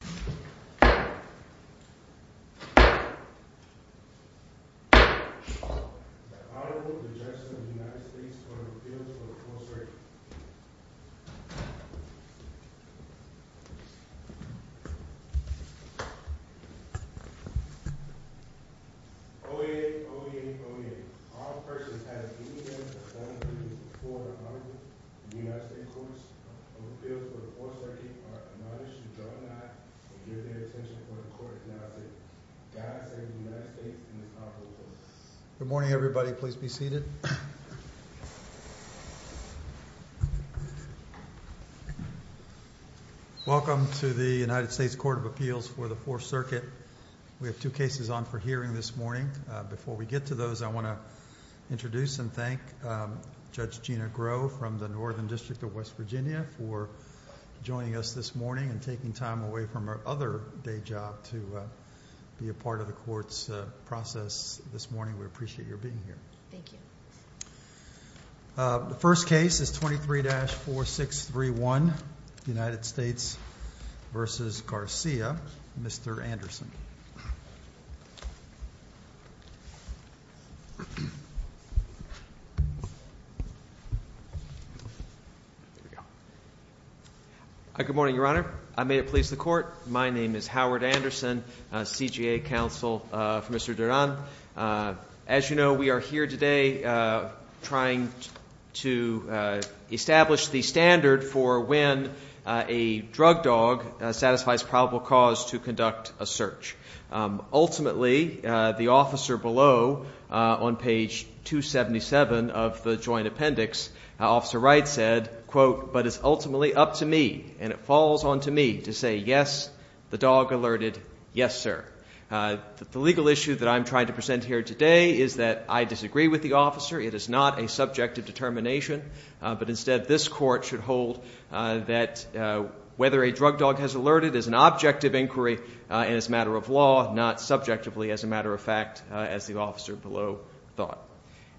The Honorable Judges of the United States Court of Appeals for the Fourth Circuit. O-8, O-8, O-8. If all persons have any evidence of form of abuse before or under the United States Court of Appeals for the Fourth Circuit are admonished, do not give their attention before the court, and I say, God save the United States and the Commonwealth. I'd like to introduce and thank Judge Gina Groh from the Northern District of West Virginia for joining us this morning and taking time away from her other day job to be a part of the court's process this morning. We appreciate your being here. Thank you. The first case is 23-4631, United States v. Garcia. Mr. Anderson. Good morning, Your Honor. I may it please the Court, my name is Howard Anderson, CJA counsel for Mr. Duran. As you know, we are here today trying to establish the standard for when a drug dog satisfies probable cause to conduct a search. Ultimately, the officer below on page 277 of the joint appendix, Officer Wright said, quote, but it's ultimately up to me and it falls onto me to say yes, the dog alerted, yes, sir. The legal issue that I'm trying to present here today is that I disagree with the officer. It is not a subjective determination. But instead, this court should hold that whether a drug dog has alerted is an objective inquiry and is a matter of law, not subjectively as a matter of fact, as the officer below thought.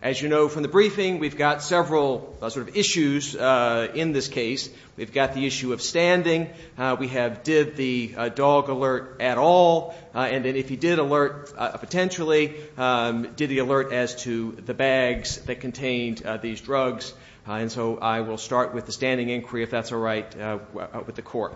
As you know from the briefing, we've got several sort of issues in this case. We've got the issue of standing. We have did the dog alert at all. And then if he did alert potentially, did he alert as to the bags that contained these drugs. And so I will start with the standing inquiry, if that's all right with the court.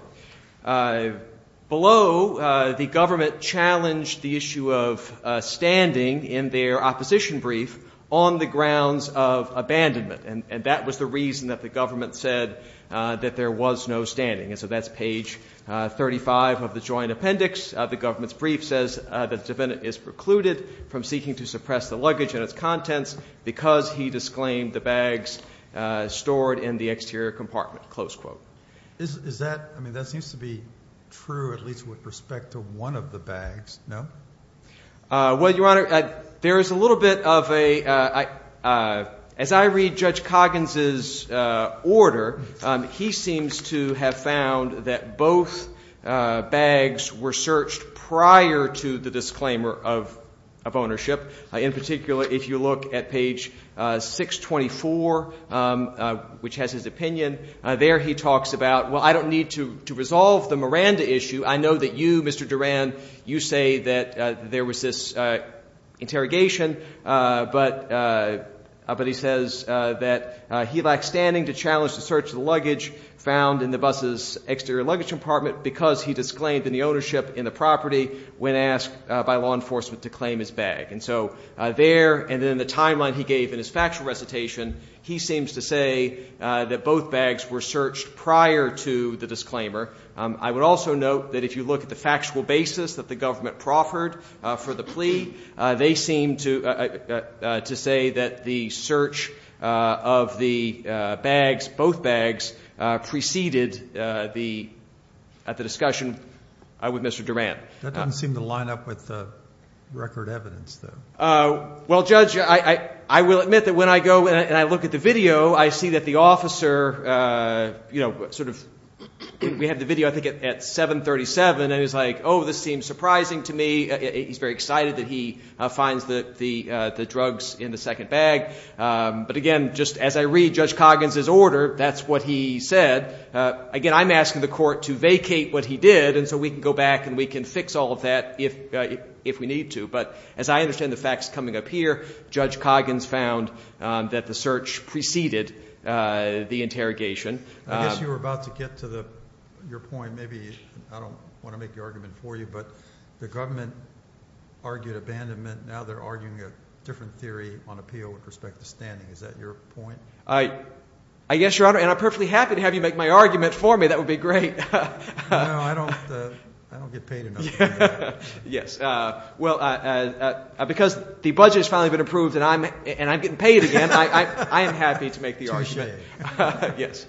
Below, the government challenged the issue of standing in their opposition brief on the grounds of abandonment. And that was the reason that the government said that there was no standing. And so that's page 35 of the joint appendix. The government's brief says that the defendant is precluded from seeking to suppress the luggage and its contents because he disclaimed the bags stored in the exterior compartment, close quote. Is that ‑‑ I mean, that seems to be true at least with respect to one of the bags, no? Well, Your Honor, there is a little bit of a ‑‑ as I read Judge Coggins's order, he seems to have found that both bags were searched prior to the disclaimer of ownership. In particular, if you look at page 624, which has his opinion, there he talks about, well, I don't need to resolve the Miranda issue. I know that you, Mr. Duran, you say that there was this interrogation, but he says that he lacks standing to challenge the search of the luggage found in the bus's exterior luggage compartment because he disclaimed the ownership in the property when asked by law enforcement to claim his bag. And so there and in the timeline he gave in his factual recitation, he seems to say that both bags were searched prior to the disclaimer. I would also note that if you look at the factual basis that the government proffered for the plea, they seem to say that the search of the bags, both bags, preceded the discussion with Mr. Duran. That doesn't seem to line up with the record evidence, though. Well, Judge, I will admit that when I go and I look at the video, I see that the officer, you know, sort of, we have the video, I think, at 737, and he's like, oh, this seems surprising to me. He's very excited that he finds the drugs in the second bag. But again, just as I read Judge Coggins's order, that's what he said. Again, I'm asking the court to vacate what he did and so we can go back and we can fix all of that if we need to. But as I understand the facts coming up here, Judge Coggins found that the search preceded the interrogation. I guess you were about to get to your point. Maybe I don't want to make the argument for you, but the government argued abandonment. Now they're arguing a different theory on appeal with respect to standing. Is that your point? I guess, Your Honor, and I'm perfectly happy to have you make my argument for me. That would be great. No, I don't get paid enough to do that. Yes. Well, because the budget has finally been approved and I'm getting paid again, I am happy to make the argument. Yes.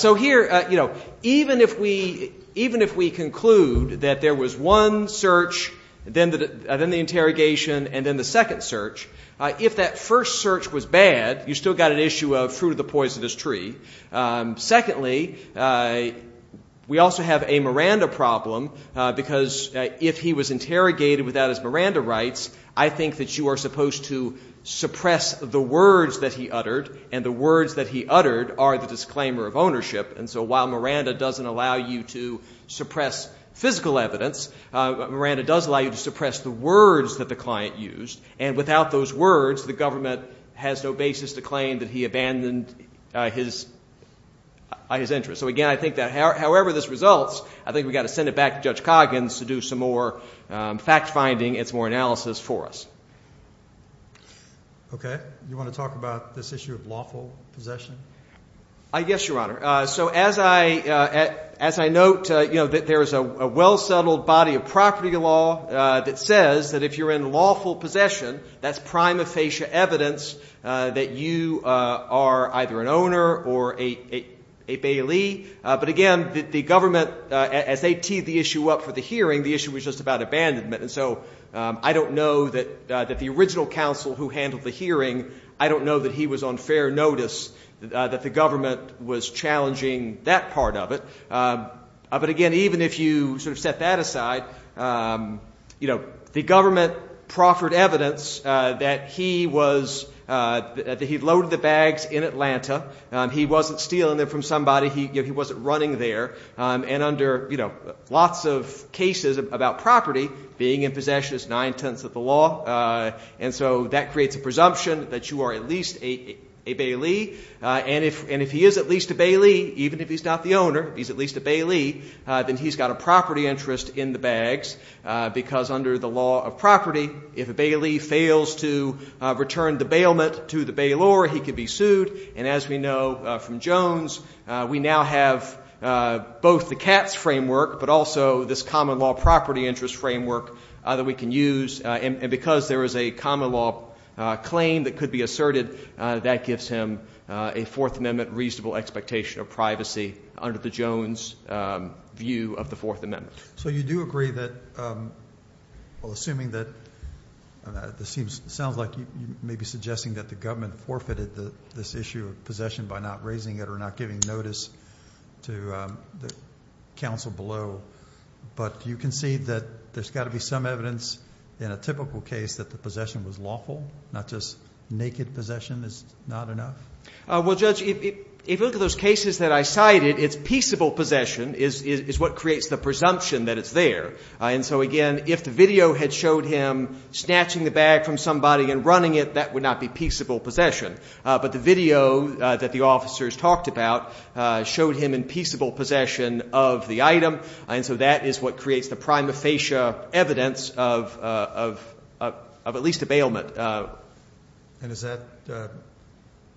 So here, you know, even if we conclude that there was one search, then the interrogation, and then the second search, if that first search was bad, you still got an issue of fruit of the poisonous tree. Secondly, we also have a Miranda problem because if he was interrogated without his Miranda rights, I think that you are supposed to suppress the words that he uttered, and the words that he uttered are the disclaimer of ownership. And so while Miranda doesn't allow you to suppress physical evidence, Miranda does allow you to suppress the words that the client used. And without those words, the government has no basis to claim that he abandoned his interest. So, again, I think that however this results, I think we've got to send it back to Judge Coggins to do some more fact finding and some more analysis for us. Okay. You want to talk about this issue of lawful possession? Yes, Your Honor. So as I note, you know, that there is a well-settled body of property law that says that if you're in lawful possession, that's prima facie evidence that you are either an owner or a bailee. But, again, the government, as they teed the issue up for the hearing, the issue was just about abandonment. And so I don't know that the original counsel who handled the hearing, I don't know that he was on fair notice that the government was challenging that part of it. But, again, even if you sort of set that aside, you know, the government proffered evidence that he loaded the bags in Atlanta. He wasn't stealing them from somebody. He wasn't running there. And under, you know, lots of cases about property, being in possession is nine-tenths of the law. And so that creates a presumption that you are at least a bailee. And if he is at least a bailee, even if he's not the owner, he's at least a bailee, then he's got a property interest in the bags, because under the law of property, if a bailee fails to return the bailment to the bailor, he could be sued. And as we know from Jones, we now have both the CATS framework, but also this common law property interest framework that we can use. And because there is a common law claim that could be asserted, that gives him a Fourth Amendment reasonable expectation of privacy under the Jones view of the Fourth Amendment. So you do agree that, well, assuming that this sounds like you may be suggesting that the government forfeited this issue of possession by not raising it or not giving notice to the counsel below, but you concede that there's got to be some evidence in a typical case that the possession was lawful, not just naked possession is not enough? Well, Judge, if you look at those cases that I cited, it's peaceable possession is what creates the presumption that it's there. And so, again, if the video had showed him snatching the bag from somebody and running it, that would not be peaceable possession. But the video that the officers talked about showed him in peaceable possession of the item. And so that is what creates the prima facie evidence of at least a bailment. And is that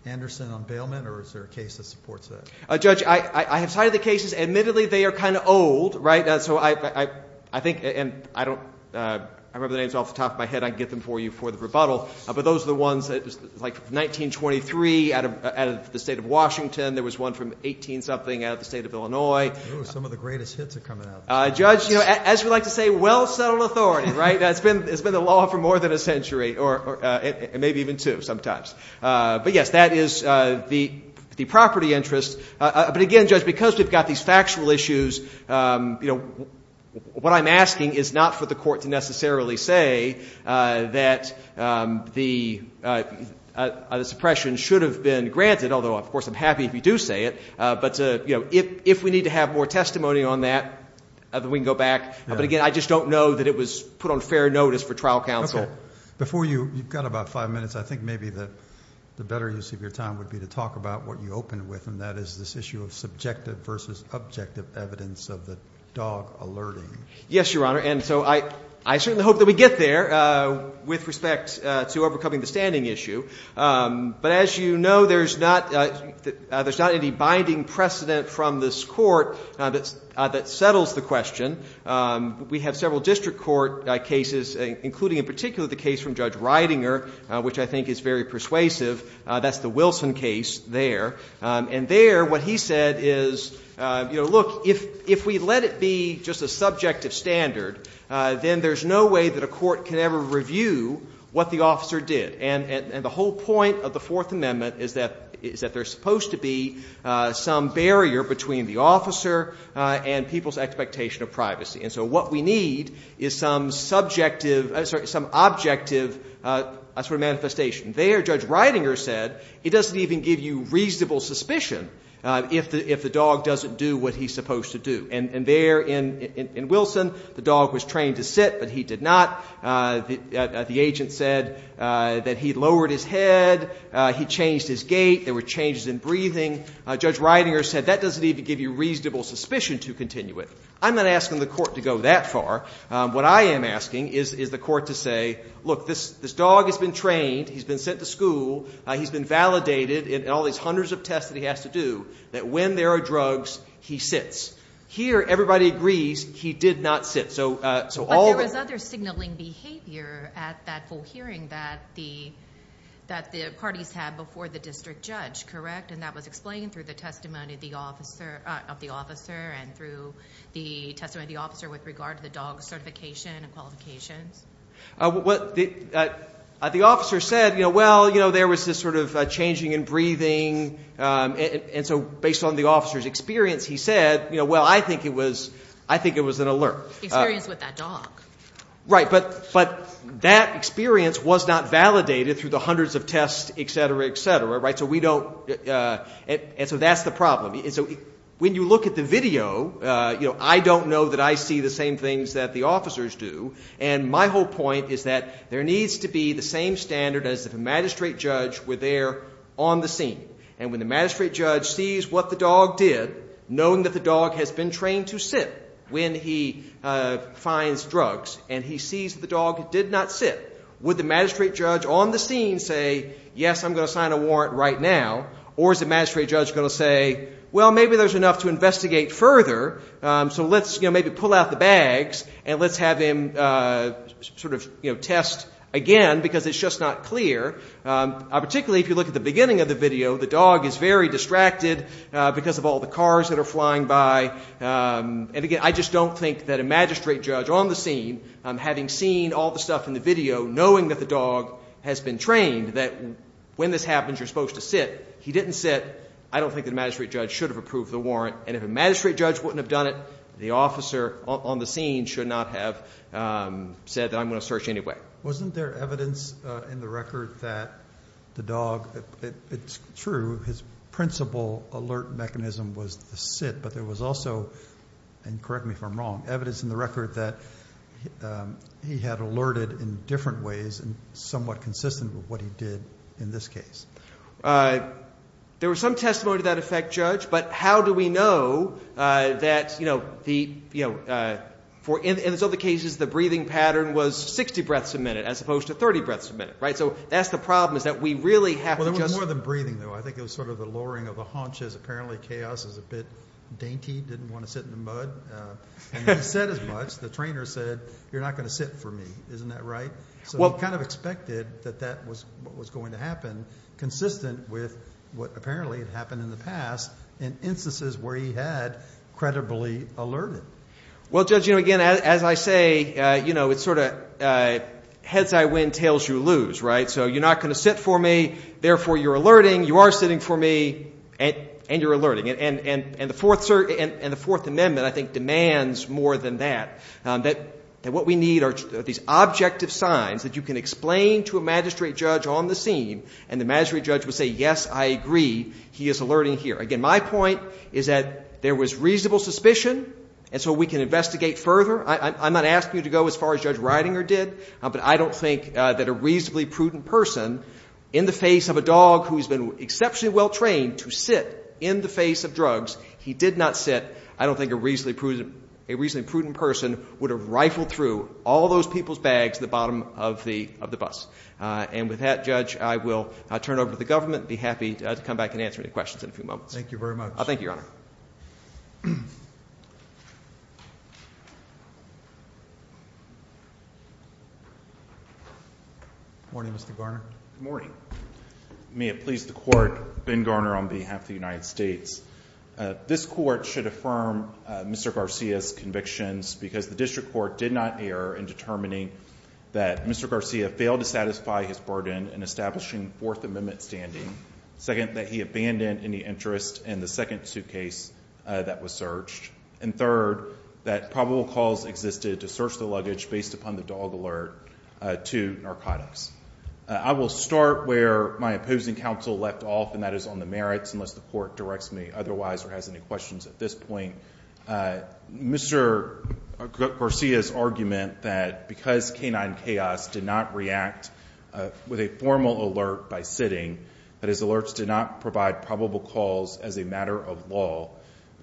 Anderson on bailment or is there a case that supports that? Judge, I have cited the cases. Admittedly, they are kind of old. Right. So I think and I don't remember the names off the top of my head. I get them for you for the rebuttal. But those are the ones that like 1923 out of the state of Washington, there was one from 18 something out of the state of Illinois. Some of the greatest hits are coming up. Judge, you know, as we like to say, well-settled authority. Right. That's been it's been the law for more than a century or maybe even two sometimes. But, yes, that is the the property interest. But again, just because we've got these factual issues, you know, what I'm asking is not for the court to necessarily say that the suppression should have been granted. Although, of course, I'm happy if you do say it. But, you know, if if we need to have more testimony on that, we can go back. But again, I just don't know that it was put on fair notice for trial counsel before you got about five minutes. I think maybe that the better use of your time would be to talk about what you opened with. And that is this issue of subjective versus objective evidence of the dog alerting. Yes, Your Honor. And so I I certainly hope that we get there with respect to overcoming the standing issue. But as you know, there's not there's not any binding precedent from this court that that settles the question. We have several district court cases, including in particular the case from Judge Ridinger, which I think is very persuasive. That's the Wilson case there. And there, what he said is, you know, look, if if we let it be just a subjective standard, then there's no way that a court can ever review what the officer did. And the whole point of the Fourth Amendment is that is that there's supposed to be some barrier between the officer and people's expectation of privacy. And so what we need is some subjective, some objective sort of manifestation. There, Judge Ridinger said, it doesn't even give you reasonable suspicion if the if the dog doesn't do what he's supposed to do. And there in in Wilson, the dog was trained to sit, but he did not. The agent said that he lowered his head. He changed his gait. There were changes in breathing. Judge Ridinger said that doesn't even give you reasonable suspicion to continue it. I'm not asking the court to go that far. What I am asking is, is the court to say, look, this this dog has been trained. He's been sent to school. He's been validated in all these hundreds of tests that he has to do that when there are drugs, he sits. Here, everybody agrees he did not sit. So. So all there was other signaling behavior at that full hearing that the that the parties had before the district judge. Correct. And that was explained through the testimony of the officer of the officer and through the testimony of the officer with regard to the dog certification and qualifications. What the officer said, you know, well, you know, there was this sort of changing in breathing. And so based on the officer's experience, he said, you know, well, I think it was I think it was an alert experience with that dog. Right. But but that experience was not validated through the hundreds of tests, et cetera, et cetera. Right. So we don't. And so that's the problem. So when you look at the video, you know, I don't know that I see the same things that the officers do. And my whole point is that there needs to be the same standard as the magistrate judge were there on the scene. And when the magistrate judge sees what the dog did, knowing that the dog has been trained to sit when he finds drugs and he sees the dog did not sit with the magistrate judge on the scene, say, yes, I'm going to sign a warrant right now. Or is the magistrate judge going to say, well, maybe there's enough to investigate further. So let's maybe pull out the bags and let's have him sort of test again, because it's just not clear. Particularly if you look at the beginning of the video, the dog is very distracted because of all the cars that are flying by. And again, I just don't think that a magistrate judge on the scene having seen all the stuff in the video, knowing that the dog has been trained that when this happens, you're supposed to sit. He didn't sit. I don't think the magistrate judge should have approved the warrant. And if a magistrate judge wouldn't have done it, the officer on the scene should not have said that I'm going to search anyway. Wasn't there evidence in the record that the dog it's true. His principal alert mechanism was the sit. But there was also and correct me if I'm wrong, evidence in the record that he had alerted in different ways and somewhat consistent with what he did in this case. There was some testimony to that effect, judge. But how do we know that, you know, the, you know, for in some of the cases, the breathing pattern was 60 breaths a minute as opposed to 30 breaths a minute. Right. So that's the problem is that we really have more than breathing, though. I think it was sort of the lowering of the haunches. Apparently, chaos is a bit dainty. Didn't want to sit in the mud. Said as much. The trainer said, you're not going to sit for me. Isn't that right? Well, kind of expected that that was what was going to happen. Consistent with what apparently happened in the past in instances where he had credibly alerted. Well, judge, you know, again, as I say, you know, it's sort of heads I win, tails you lose. Right. So you're not going to sit for me. Therefore, you're alerting. You are sitting for me and you're alerting. And the Fourth Amendment, I think, demands more than that. That what we need are these objective signs that you can explain to a magistrate judge on the scene, and the magistrate judge will say, yes, I agree, he is alerting here. Again, my point is that there was reasonable suspicion, and so we can investigate further. I'm not asking you to go as far as Judge Reidinger did, but I don't think that a reasonably prudent person in the face of a dog who has been exceptionally well trained to sit in the face of drugs, he did not sit. I don't think a reasonably prudent person would have rifled through all those people's bags at the bottom of the bus. And with that, Judge, I will turn it over to the government and be happy to come back and answer any questions in a few moments. Thank you very much. Thank you, Your Honor. Good morning, Mr. Garner. Good morning. May it please the court, Ben Garner on behalf of the United States. This court should affirm Mr. Garcia's convictions because the district court did not err in determining that Mr. Garcia failed to satisfy his burden in establishing Fourth Amendment standing, second, that he abandoned any interest in the second suitcase that was searched, and third, that probable cause existed to search the luggage based upon the dog alert to narcotics. I will start where my opposing counsel left off, and that is on the merits, unless the court directs me otherwise or has any questions at this point. Mr. Garcia's argument that because K-9 Chaos did not react with a formal alert by sitting, that his alerts did not provide probable cause as a matter of law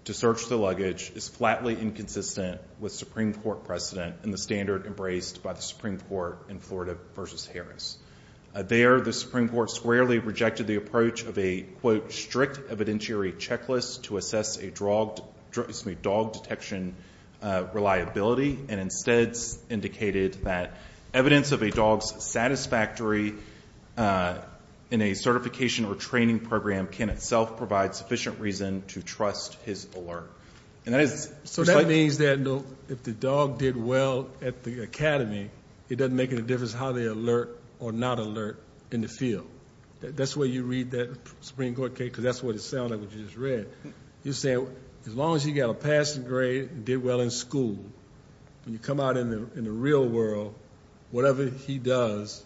to search the luggage, is flatly inconsistent with Supreme Court precedent and the standard embraced by the Supreme Court in Florida v. Harris. There, the Supreme Court squarely rejected the approach of a, quote, strict evidentiary checklist to assess a dog detection reliability and instead indicated that evidence of a dog's satisfactory in a certification or training program can itself provide sufficient reason to trust his alert. So that means that if the dog did well at the academy, it doesn't make any difference how they alert or not alert in the field. That's the way you read that Supreme Court case because that's what it sounded like what you just read. You're saying as long as he got a passing grade and did well in school, when you come out in the real world, whatever he does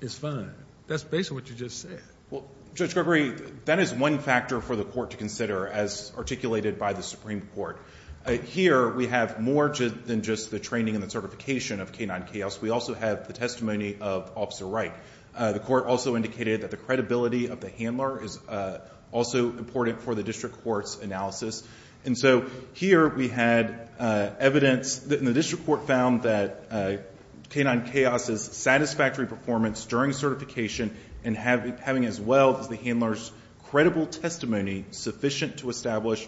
is fine. That's basically what you just said. Well, Judge Gregory, that is one factor for the court to consider as articulated by the Supreme Court. Here we have more than just the training and the certification of K-9 Chaos. We also have the testimony of Officer Wright. The court also indicated that the credibility of the handler is also important for the district court's analysis. And so here we had evidence that the district court found that K-9 Chaos' satisfactory performance during certification and having as well as the handler's credible testimony sufficient to establish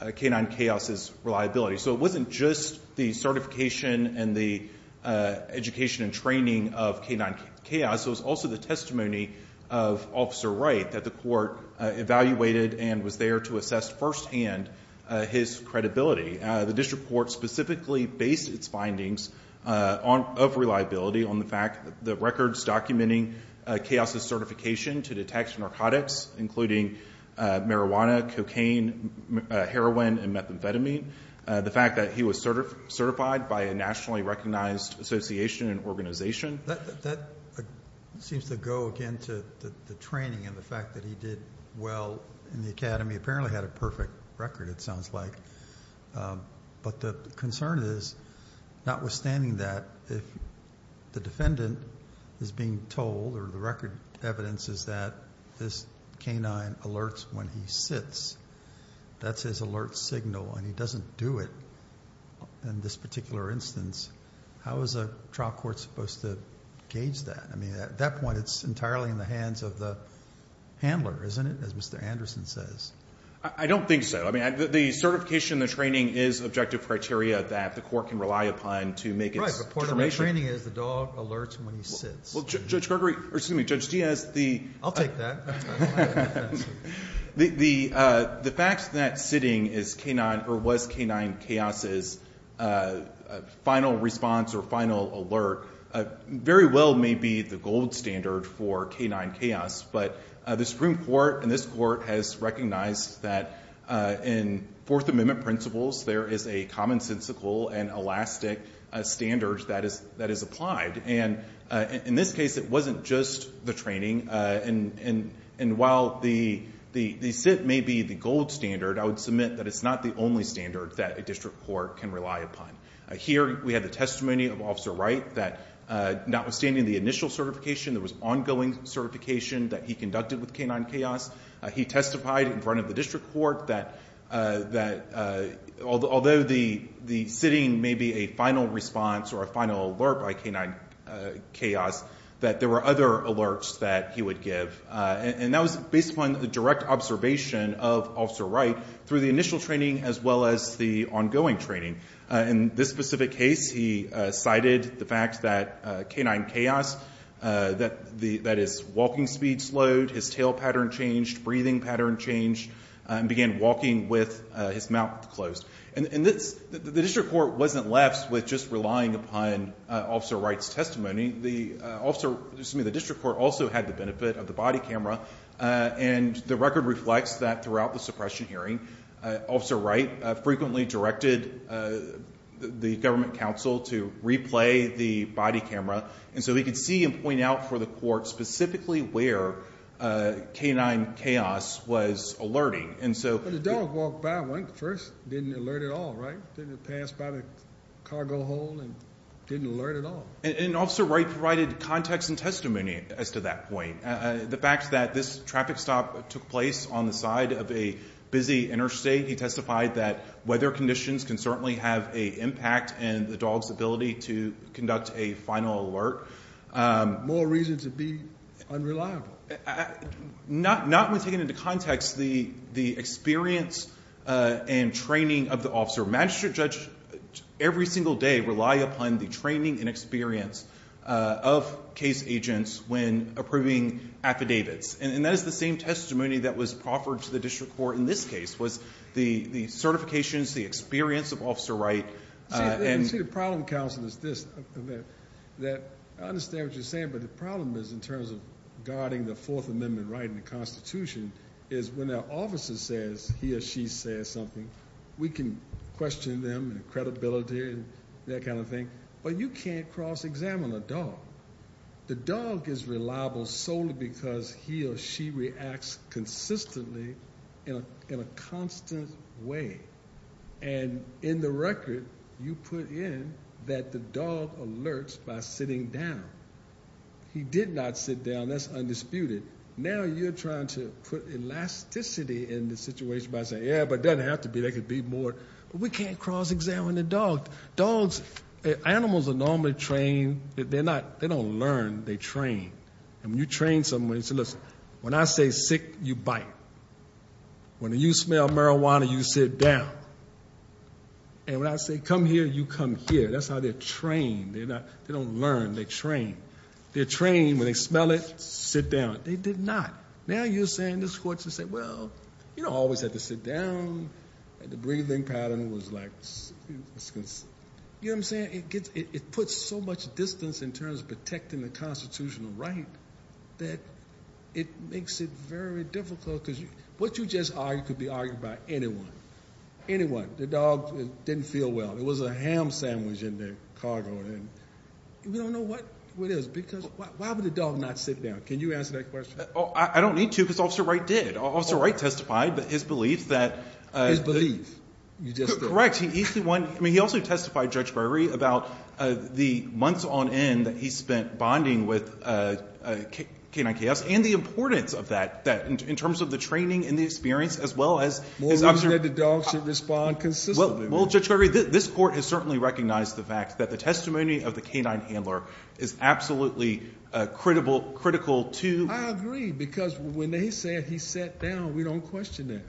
K-9 Chaos' reliability. So it wasn't just the certification and the education and training of K-9 Chaos. It was also the testimony of Officer Wright that the court evaluated and was there to assess firsthand his credibility. The district court specifically based its findings of reliability on the fact that the records documenting Chaos' certification to detect narcotics, including marijuana, cocaine, heroin, and methamphetamine, the fact that he was certified by a nationally recognized association and organization. That seems to go, again, to the training and the fact that he did well in the academy. He apparently had a perfect record, it sounds like. But the concern is, notwithstanding that, if the defendant is being told or the record evidence is that this K-9 alerts when he sits, that's his alert signal and he doesn't do it in this particular instance, how is a trial court supposed to gauge that? I mean, at that point, it's entirely in the hands of the handler, isn't it, as Mr. Anderson says? I don't think so. I mean, the certification and the training is objective criteria that the court can rely upon to make its determination. Right, but part of the training is the dog alerts when he sits. Well, Judge Gregory, or excuse me, Judge Diaz, the… I'll take that. The fact that sitting was K-9 CAOS's final response or final alert very well may be the gold standard for K-9 CAOS, but the Supreme Court and this court has recognized that in Fourth Amendment principles, there is a commonsensical and elastic standard that is applied. And in this case, it wasn't just the training. And while the sit may be the gold standard, I would submit that it's not the only standard that a district court can rely upon. Here, we have the testimony of Officer Wright that, notwithstanding the initial certification, there was ongoing certification that he conducted with K-9 CAOS. He testified in front of the district court that although the sitting may be a final response or a final alert by K-9 CAOS, that there were other alerts that he would give. And that was based upon the direct observation of Officer Wright through the initial training as well as the ongoing training. In this specific case, he cited the fact that K-9 CAOS, that his walking speed slowed, his tail pattern changed, breathing pattern changed, and began walking with his mouth closed. And the district court wasn't left with just relying upon Officer Wright's testimony. The district court also had the benefit of the body camera. And the record reflects that throughout the suppression hearing, Officer Wright frequently directed the government counsel to replay the body camera. And so he could see and point out for the court specifically where K-9 CAOS was alerting. But the dog walked by first, didn't alert at all, right? Didn't it pass by the cargo hold and didn't alert at all? And Officer Wright provided context and testimony as to that point. The fact that this traffic stop took place on the side of a busy interstate, he testified that weather conditions can certainly have an impact and the dog's ability to conduct a final alert. More reason to be unreliable. Not when taking into context the experience and training of the officer. Magistrate judges every single day rely upon the training and experience of case agents when approving affidavits. And that is the same testimony that was offered to the district court in this case, was the certifications, the experience of Officer Wright. See, the problem, counsel, is this. I understand what you're saying, but the problem is in terms of guarding the Fourth Amendment right in the Constitution is when an officer says he or she says something, we can question them and credibility and that kind of thing. But you can't cross-examine a dog. The dog is reliable solely because he or she reacts consistently in a constant way. And in the record, you put in that the dog alerts by sitting down. He did not sit down. That's undisputed. Now you're trying to put elasticity in the situation by saying, yeah, but it doesn't have to be. There could be more. We can't cross-examine a dog. Dogs, animals are normally trained. They're not, they don't learn, they train. And when you train someone, you say, listen, when I say sick, you bite. When you smell marijuana, you sit down. And when I say come here, you come here. That's how they're trained. They don't learn, they train. They're trained when they smell it, sit down. They did not. Now you're saying this court should say, well, you don't always have to sit down. The breathing pattern was like, you know what I'm saying? It puts so much distance in terms of protecting the constitutional right that it makes it very difficult. Because what you just argued could be argued by anyone, anyone. The dog didn't feel well. There was a ham sandwich in the cargo. And we don't know what it is because why would the dog not sit down? Can you answer that question? I don't need to because Officer Wright did. Officer Wright testified that his belief that. His belief, you just said. Correct. He also testified, Judge Browery, about the months on end that he spent bonding with K-9 KFs and the importance of that in terms of the training and the experience as well as... More reason that the dog should respond consistently. Well, Judge Browery, this court has certainly recognized the fact that the testimony of the K-9 handler is absolutely critical to... We don't question that.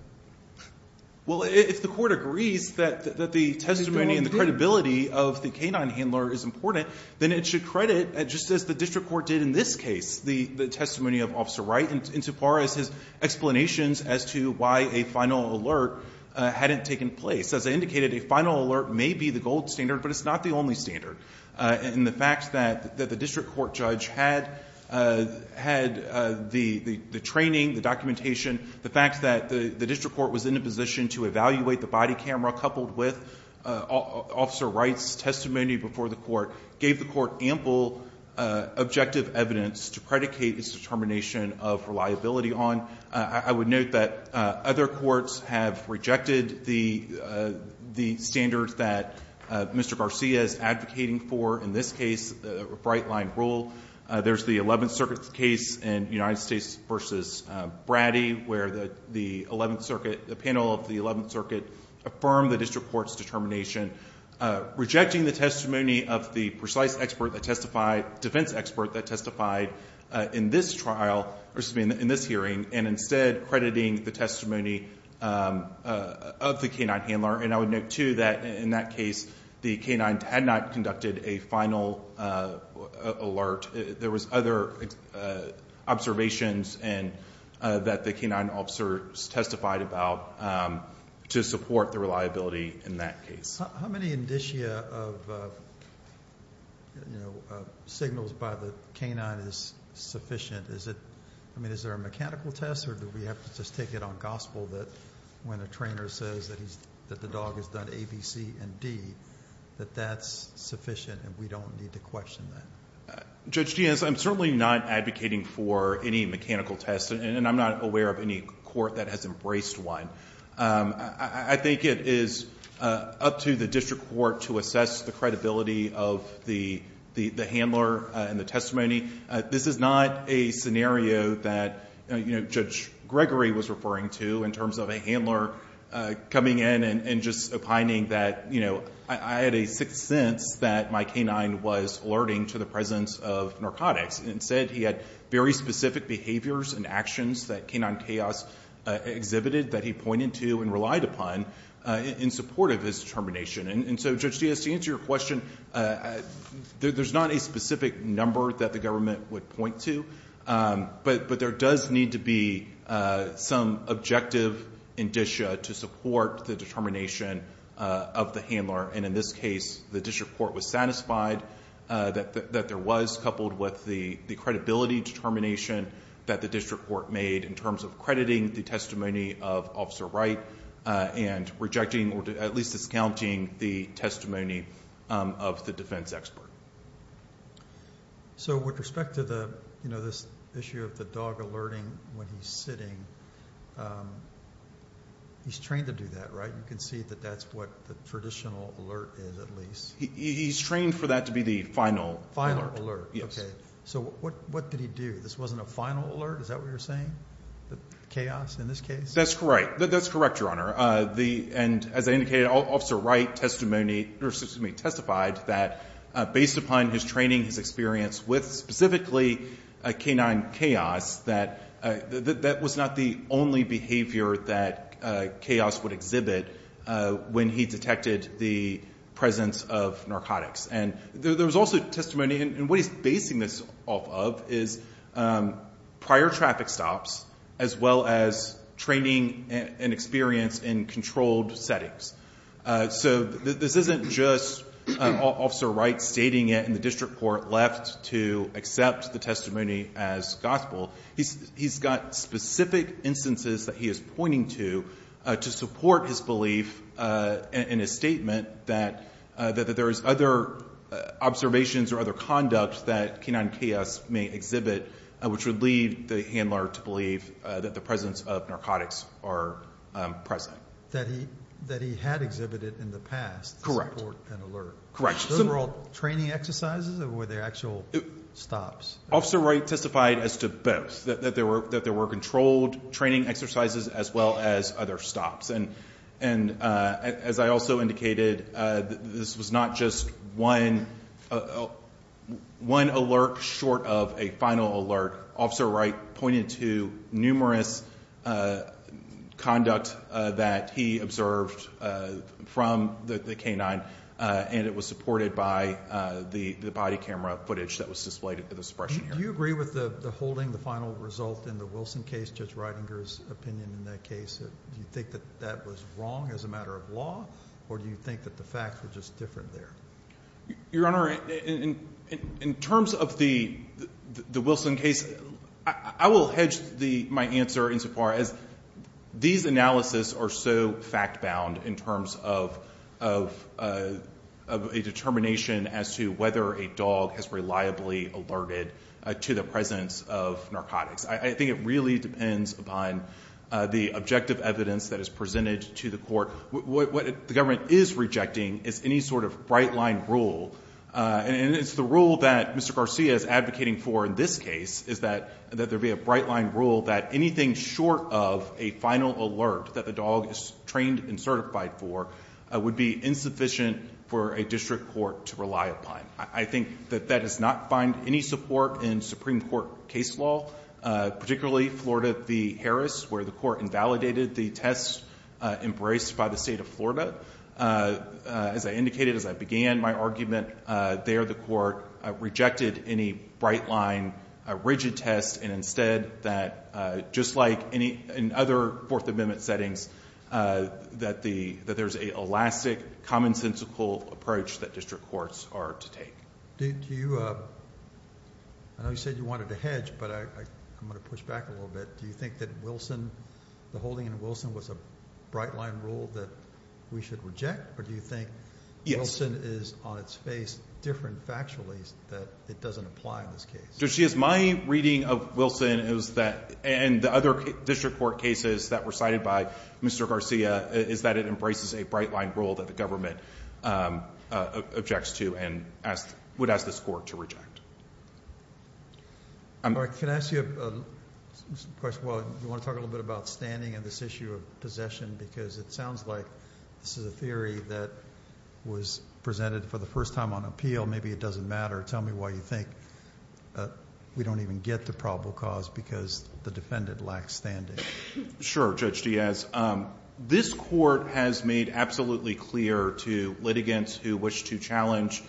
Well, if the court agrees that the testimony and the credibility of the K-9 handler is important, then it should credit, just as the district court did in this case, the testimony of Officer Wright insofar as his explanations as to why a final alert hadn't taken place. As I indicated, a final alert may be the gold standard, but it's not the only standard. In the fact that the district court judge had the training, the documentation, the fact that the district court was in a position to evaluate the body camera coupled with Officer Wright's testimony before the court gave the court ample objective evidence to predicate its determination of reliability on... in this case, a bright-line rule. There's the Eleventh Circuit's case in United States v. Brady where the Eleventh Circuit, the panel of the Eleventh Circuit, affirmed the district court's determination, rejecting the testimony of the precise expert that testified, defense expert that testified in this trial, or excuse me, in this hearing, and instead crediting the testimony of the K-9 handler. And I would note, too, that in that case, the K-9 had not conducted a final alert. There was other observations that the K-9 officers testified about to support the reliability in that case. How many indicia of signals by the K-9 is sufficient? I mean, is there a mechanical test, or do we have to just take it on gospel that when a trainer says that the dog has done A, B, C, and D, that that's sufficient and we don't need to question that? Judge Giaz, I'm certainly not advocating for any mechanical test, and I'm not aware of any court that has embraced one. I think it is up to the district court to assess the credibility of the handler and the testimony. This is not a scenario that Judge Gregory was referring to in terms of a handler coming in and just opining that, you know, I had a sixth sense that my K-9 was alerting to the presence of narcotics. Instead, he had very specific behaviors and actions that K-9 Chaos exhibited that he pointed to and relied upon in support of his determination. And so, Judge Giaz, to answer your question, there's not a specific number that the government would point to, but there does need to be some objective indicia to support the determination of the handler. And in this case, the district court was satisfied that there was, coupled with the credibility determination that the district court made in terms of crediting the testimony of Officer Wright and rejecting or at least discounting the testimony of the defense expert. So with respect to the, you know, this issue of the dog alerting when he's sitting, he's trained to do that, right? You can see that that's what the traditional alert is, at least. He's trained for that to be the final alert. Yes. Okay. So what did he do? This wasn't a final alert? Is that what you're saying, the Chaos in this case? That's correct. That's correct, Your Honor. And as I indicated, Officer Wright testified that based upon his training, his experience with specifically K-9 Chaos, that that was not the only behavior that Chaos would exhibit when he detected the presence of narcotics. And there was also testimony, and what he's basing this off of is prior traffic stops as well as training and experience in controlled settings. So this isn't just Officer Wright stating it and the district court left to accept the testimony as gospel. He's got specific instances that he is pointing to to support his belief in his statement that there is other observations or other conduct that K-9 Chaos may exhibit, which would lead the handler to believe that the presence of narcotics are present. That he had exhibited in the past. Correct. Support and alert. Correct. Those were all training exercises or were they actual stops? Officer Wright testified as to both, that there were controlled training exercises as well as other stops. And as I also indicated, this was not just one alert short of a final alert. Officer Wright pointed to numerous conduct that he observed from the K-9 and it was supported by the body camera footage that was displayed at the suppression area. Do you agree with the holding, the final result in the Wilson case, Judge Ridinger's opinion in that case? Do you think that that was wrong as a matter of law or do you think that the facts were just different there? Your Honor, in terms of the Wilson case, I will hedge my answer insofar as these analysis are so fact-bound in terms of a determination as to whether a dog has reliably alerted to the presence of narcotics. I think it really depends upon the objective evidence that is presented to the court. What the government is rejecting is any sort of bright-line rule. And it's the rule that Mr. Garcia is advocating for in this case is that there be a bright-line rule that anything short of a final alert that the dog is trained and certified for would be insufficient for a district court to rely upon. I think that that does not find any support in Supreme Court case law, particularly Florida v. Harris where the court invalidated the test embraced by the state of Florida. As I indicated as I began my argument, there the court rejected any bright-line rigid test and instead that just like in other Fourth Amendment settings that there's an elastic, commonsensical approach that district courts are to take. I know you said you wanted to hedge, but I'm going to push back a little bit. Do you think that the holding in Wilson was a bright-line rule that we should reject? Or do you think Wilson is on its face different factually that it doesn't apply in this case? My reading of Wilson and the other district court cases that were cited by Mr. Garcia is that it embraces a bright-line rule that the government objects to and would ask this court to reject. Can I ask you a question? You want to talk a little bit about standing and this issue of possession because it sounds like this is a theory that was presented for the first time on appeal. Maybe it doesn't matter. Tell me why you think we don't even get the probable cause because the defendant lacks standing. Sure, Judge Diaz. This court has made absolutely clear to litigants who wish to challenge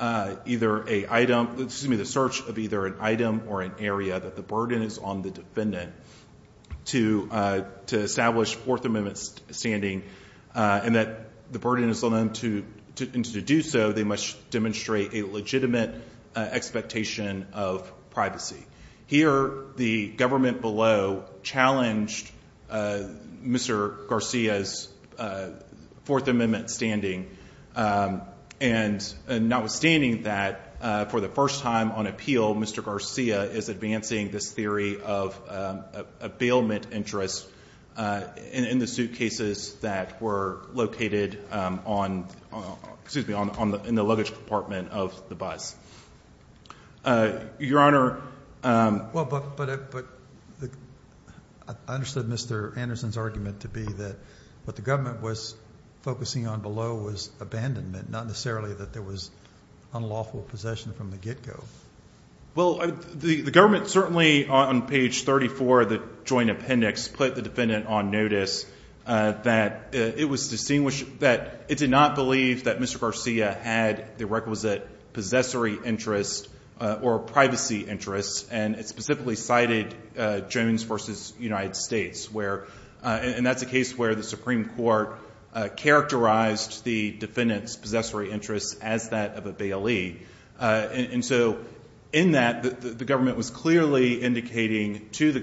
either an item, excuse me, the search of either an item or an area that the burden is on the defendant to establish Fourth Amendment standing and that the burden is on them to do so they must demonstrate a legitimate expectation of privacy. Here the government below challenged Mr. Garcia's Fourth Amendment standing and notwithstanding that for the first time on appeal Mr. Garcia is advancing this theory of a bailment interest in the suitcases that were located on, excuse me, in the luggage compartment of the bus. Your Honor. But I understood Mr. Anderson's argument to be that what the government was focusing on below was abandonment, not necessarily that there was unlawful possession from the get-go. Well, the government certainly on page 34 of the joint appendix put the defendant on notice that it did not believe that Mr. Garcia had the requisite possessory interest or privacy interest and it specifically cited Jones v. United States where, and that's a case where the Supreme Court characterized the defendant's possessory interest as that of a bailee. And so in that the government was clearly indicating to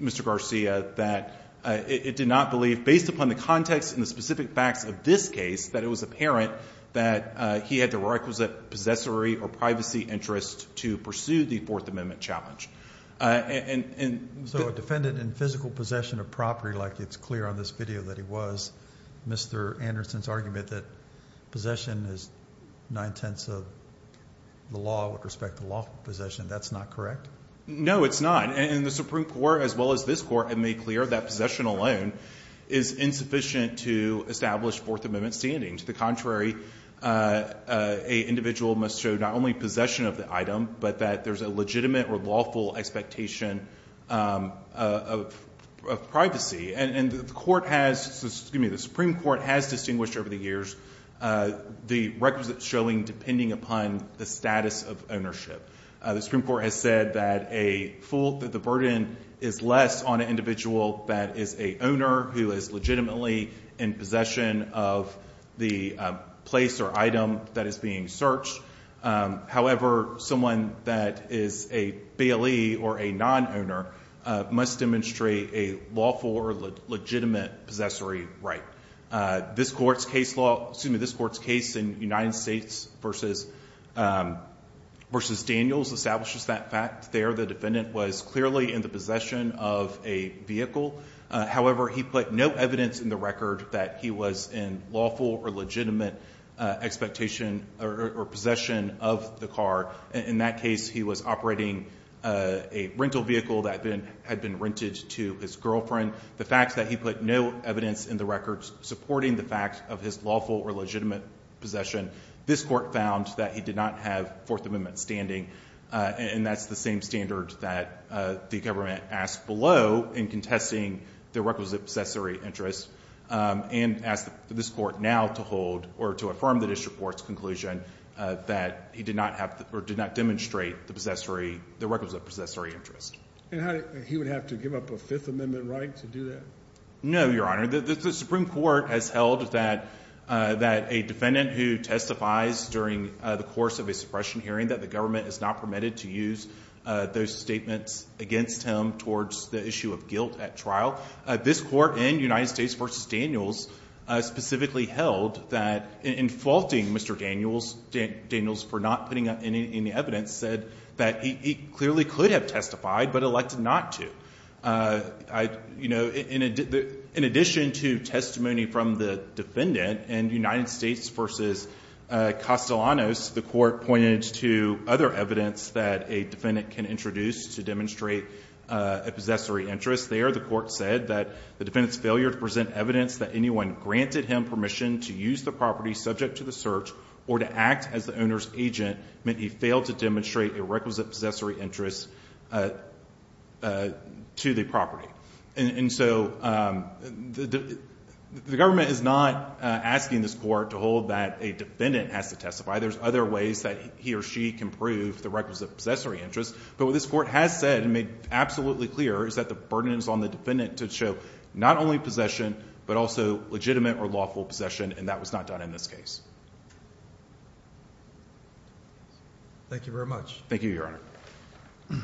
Mr. Garcia that it did not believe based upon the context and the specific facts of this case that it was apparent that he had the requisite possessory or privacy interest to pursue the Fourth Amendment challenge. So a defendant in physical possession of property like it's clear on this video that he was, Mr. Anderson's argument that possession is nine-tenths of the law with respect to lawful possession, that's not correct? No, it's not. And the Supreme Court as well as this court have made clear that possession alone is insufficient to establish Fourth Amendment standings. To the contrary, an individual must show not only possession of the item but that there's a legitimate or lawful expectation of privacy. And the Supreme Court has distinguished over the years the requisite showing depending upon the status of ownership. The Supreme Court has said that a full, that the burden is less on an individual that is a owner who is legitimately in possession of the place or item that is being searched. However, someone that is a bailee or a non-owner must demonstrate a lawful or legitimate possessory right. This court's case law, excuse me, this court's case in United States versus Daniels establishes that fact there. The defendant was clearly in the possession of a vehicle. However, he put no evidence in the record that he was in lawful or legitimate expectation or possession of the car. In that case, he was operating a rental vehicle that had been rented to his girlfriend. The fact that he put no evidence in the record supporting the fact of his lawful or legitimate possession, this court found that he did not have Fourth Amendment standing. And that's the same standard that the government asked below in contesting the requisite possessory interest and asked this court now to hold or to affirm the district court's conclusion that he did not have or did not demonstrate the possessory, the requisite possessory interest. And he would have to give up a Fifth Amendment right to do that? No, Your Honor. The Supreme Court has held that a defendant who testifies during the course of a suppression hearing, that the government is not permitted to use those statements against him towards the issue of guilt at trial. This court in United States versus Daniels specifically held that in faulting Mr. Daniels, Daniels for not putting up any evidence, said that he clearly could have testified but elected not to. You know, in addition to testimony from the defendant in United States versus Castellanos, the court pointed to other evidence that a defendant can introduce to demonstrate a possessory interest there. The court said that the defendant's failure to present evidence that anyone granted him permission to use the property subject to the search or to act as the owner's agent meant he failed to demonstrate a requisite possessory interest to the property. And so the government is not asking this court to hold that a defendant has to testify. There's other ways that he or she can prove the requisite possessory interest. But what this court has said and made absolutely clear is that the burden is on the defendant to show not only possession but also legitimate or lawful possession, and that was not done in this case. Thank you very much. Thank you, Your Honor.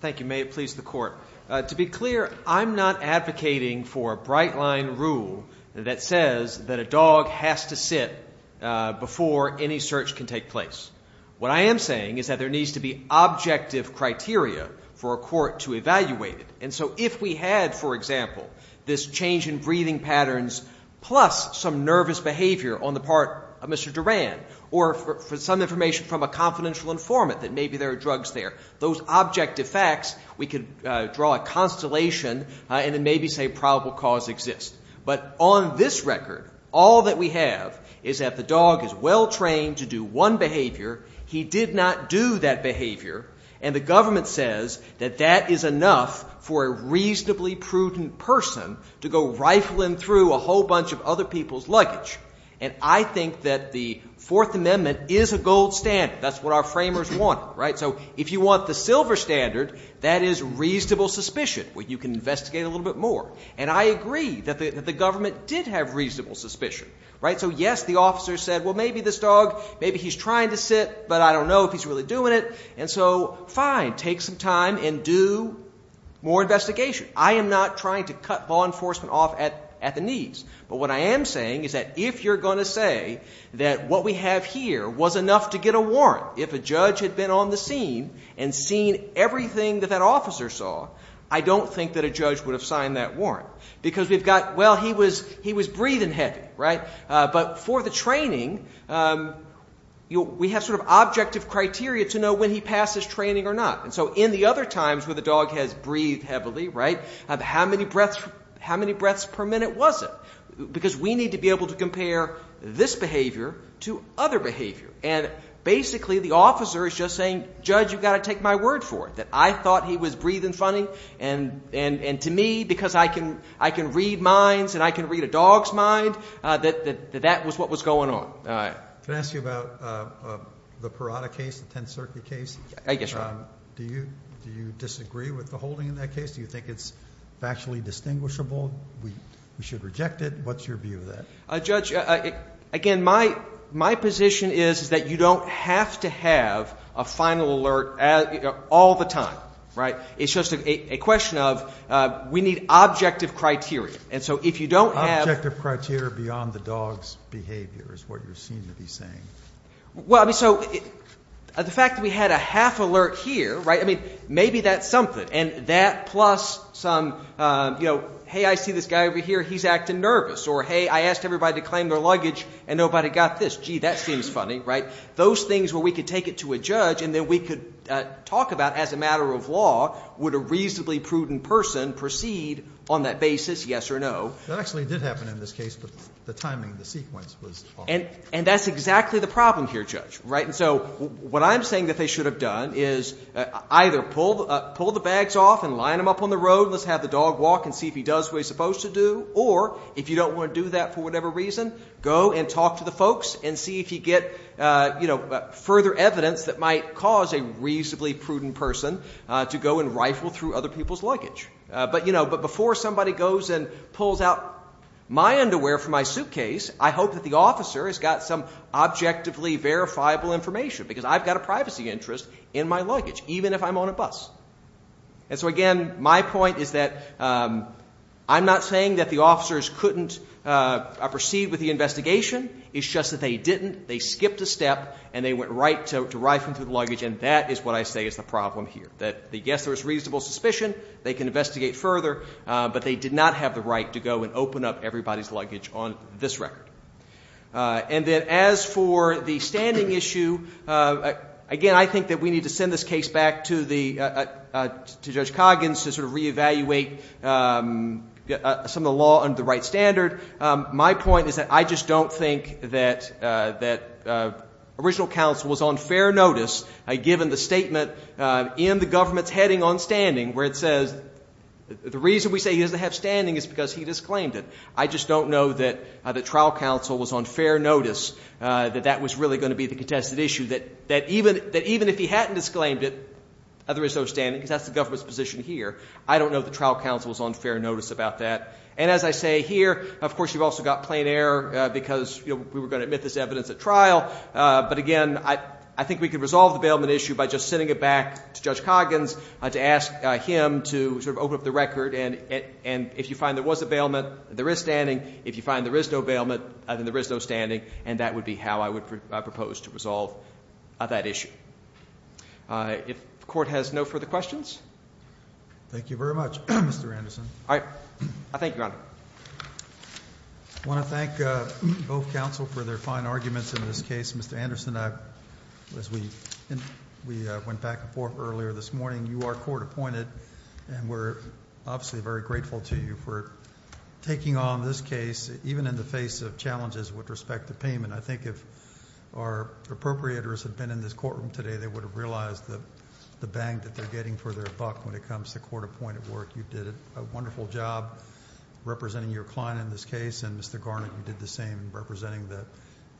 Thank you. May it please the court. To be clear, I'm not advocating for a bright line rule that says that a dog has to sit before any search can take place. What I am saying is that there needs to be objective criteria for a court to evaluate it. And so if we had, for example, this change in breathing patterns plus some nervous behavior on the part of Mr. Duran or some information from a confidential informant that maybe there are drugs there, those objective facts we could draw a constellation and then maybe say probable cause exists. But on this record, all that we have is that the dog is well-trained to do one behavior. He did not do that behavior, and the government says that that is enough for a reasonably prudent person to go rifling through a whole bunch of other people's luggage. And I think that the Fourth Amendment is a gold standard. That's what our framers wanted, right? So if you want the silver standard, that is reasonable suspicion where you can investigate a little bit more. And I agree that the government did have reasonable suspicion, right? So yes, the officer said, well, maybe this dog, maybe he's trying to sit, but I don't know if he's really doing it. And so fine, take some time and do more investigation. I am not trying to cut law enforcement off at the knees. But what I am saying is that if you're going to say that what we have here was enough to get a warrant, if a judge had been on the scene and seen everything that that officer saw, I don't think that a judge would have signed that warrant. Because we've got, well, he was breathing heavy, right? But for the training, we have sort of objective criteria to know when he passed his training or not. And so in the other times where the dog has breathed heavily, right, how many breaths per minute was it? Because we need to be able to compare this behavior to other behavior. And basically the officer is just saying, judge, you've got to take my word for it, that I thought he was breathing funny. And to me, because I can read minds and I can read a dog's mind, that that was what was going on. Can I ask you about the Parada case, the 10th Circuit case? Yes, Your Honor. Do you disagree with the holding in that case? Do you think it's factually distinguishable? We should reject it. What's your view of that? Judge, again, my position is that you don't have to have a final alert all the time, right? It's just a question of we need objective criteria. And so if you don't have... Objective criteria beyond the dog's behavior is what you seem to be saying. Well, I mean, so the fact that we had a half alert here, right, I mean, maybe that's something. And that plus some, you know, hey, I see this guy over here, he's acting nervous. Or, hey, I asked everybody to claim their luggage and nobody got this. Gee, that seems funny, right? Those things where we could take it to a judge and then we could talk about as a matter of law, would a reasonably prudent person proceed on that basis, yes or no? That actually did happen in this case, but the timing, the sequence was off. And that's exactly the problem here, Judge, right? And so what I'm saying that they should have done is either pull the bags off and line them up on the road and let's have the dog walk and see if he does what he's supposed to do, or if you don't want to do that for whatever reason, go and talk to the folks and see if you get, you know, further evidence that might cause a reasonably prudent person to go and rifle through other people's luggage. But, you know, but before somebody goes and pulls out my underwear from my suitcase, I hope that the officer has got some objectively verifiable information because I've got a privacy interest in my luggage, even if I'm on a bus. And so, again, my point is that I'm not saying that the officers couldn't proceed with the investigation. It's just that they didn't. They skipped a step and they went right to rifling through the luggage, and that is what I say is the problem here, that yes, there was reasonable suspicion. They can investigate further, but they did not have the right to go and open up everybody's luggage on this record. And then as for the standing issue, again, I think that we need to send this case back to Judge Coggins to sort of reevaluate some of the law under the right standard. My point is that I just don't think that original counsel was on fair notice, given the statement in the government's heading on standing where it says, the reason we say he doesn't have standing is because he disclaimed it. I just don't know that the trial counsel was on fair notice that that was really going to be the contested issue, that even if he hadn't disclaimed it, there is no standing, because that's the government's position here. I don't know if the trial counsel was on fair notice about that. And as I say here, of course, you've also got plain error because, you know, we were going to admit this evidence at trial. But again, I think we could resolve the bailment issue by just sending it back to Judge Coggins to ask him to sort of open up the record. And if you find there was a bailment, there is standing. If you find there is no bailment, then there is no standing. And that would be how I would propose to resolve that issue. If the Court has no further questions? Thank you very much, Mr. Anderson. All right. I thank Your Honor. I want to thank both counsel for their fine arguments in this case. Mr. Anderson, as we went back and forth earlier this morning, you are court appointed, and we're obviously very grateful to you for taking on this case, even in the face of challenges with respect to payment. I think if our appropriators had been in this courtroom today, they would have realized the bang that they're getting for their buck when it comes to court-appointed work. You did a wonderful job. Representing your client in this case, and Mr. Garnett, you did the same in representing the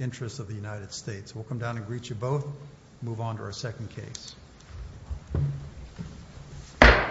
interests of the United States. We'll come down and greet you both and move on to our second case.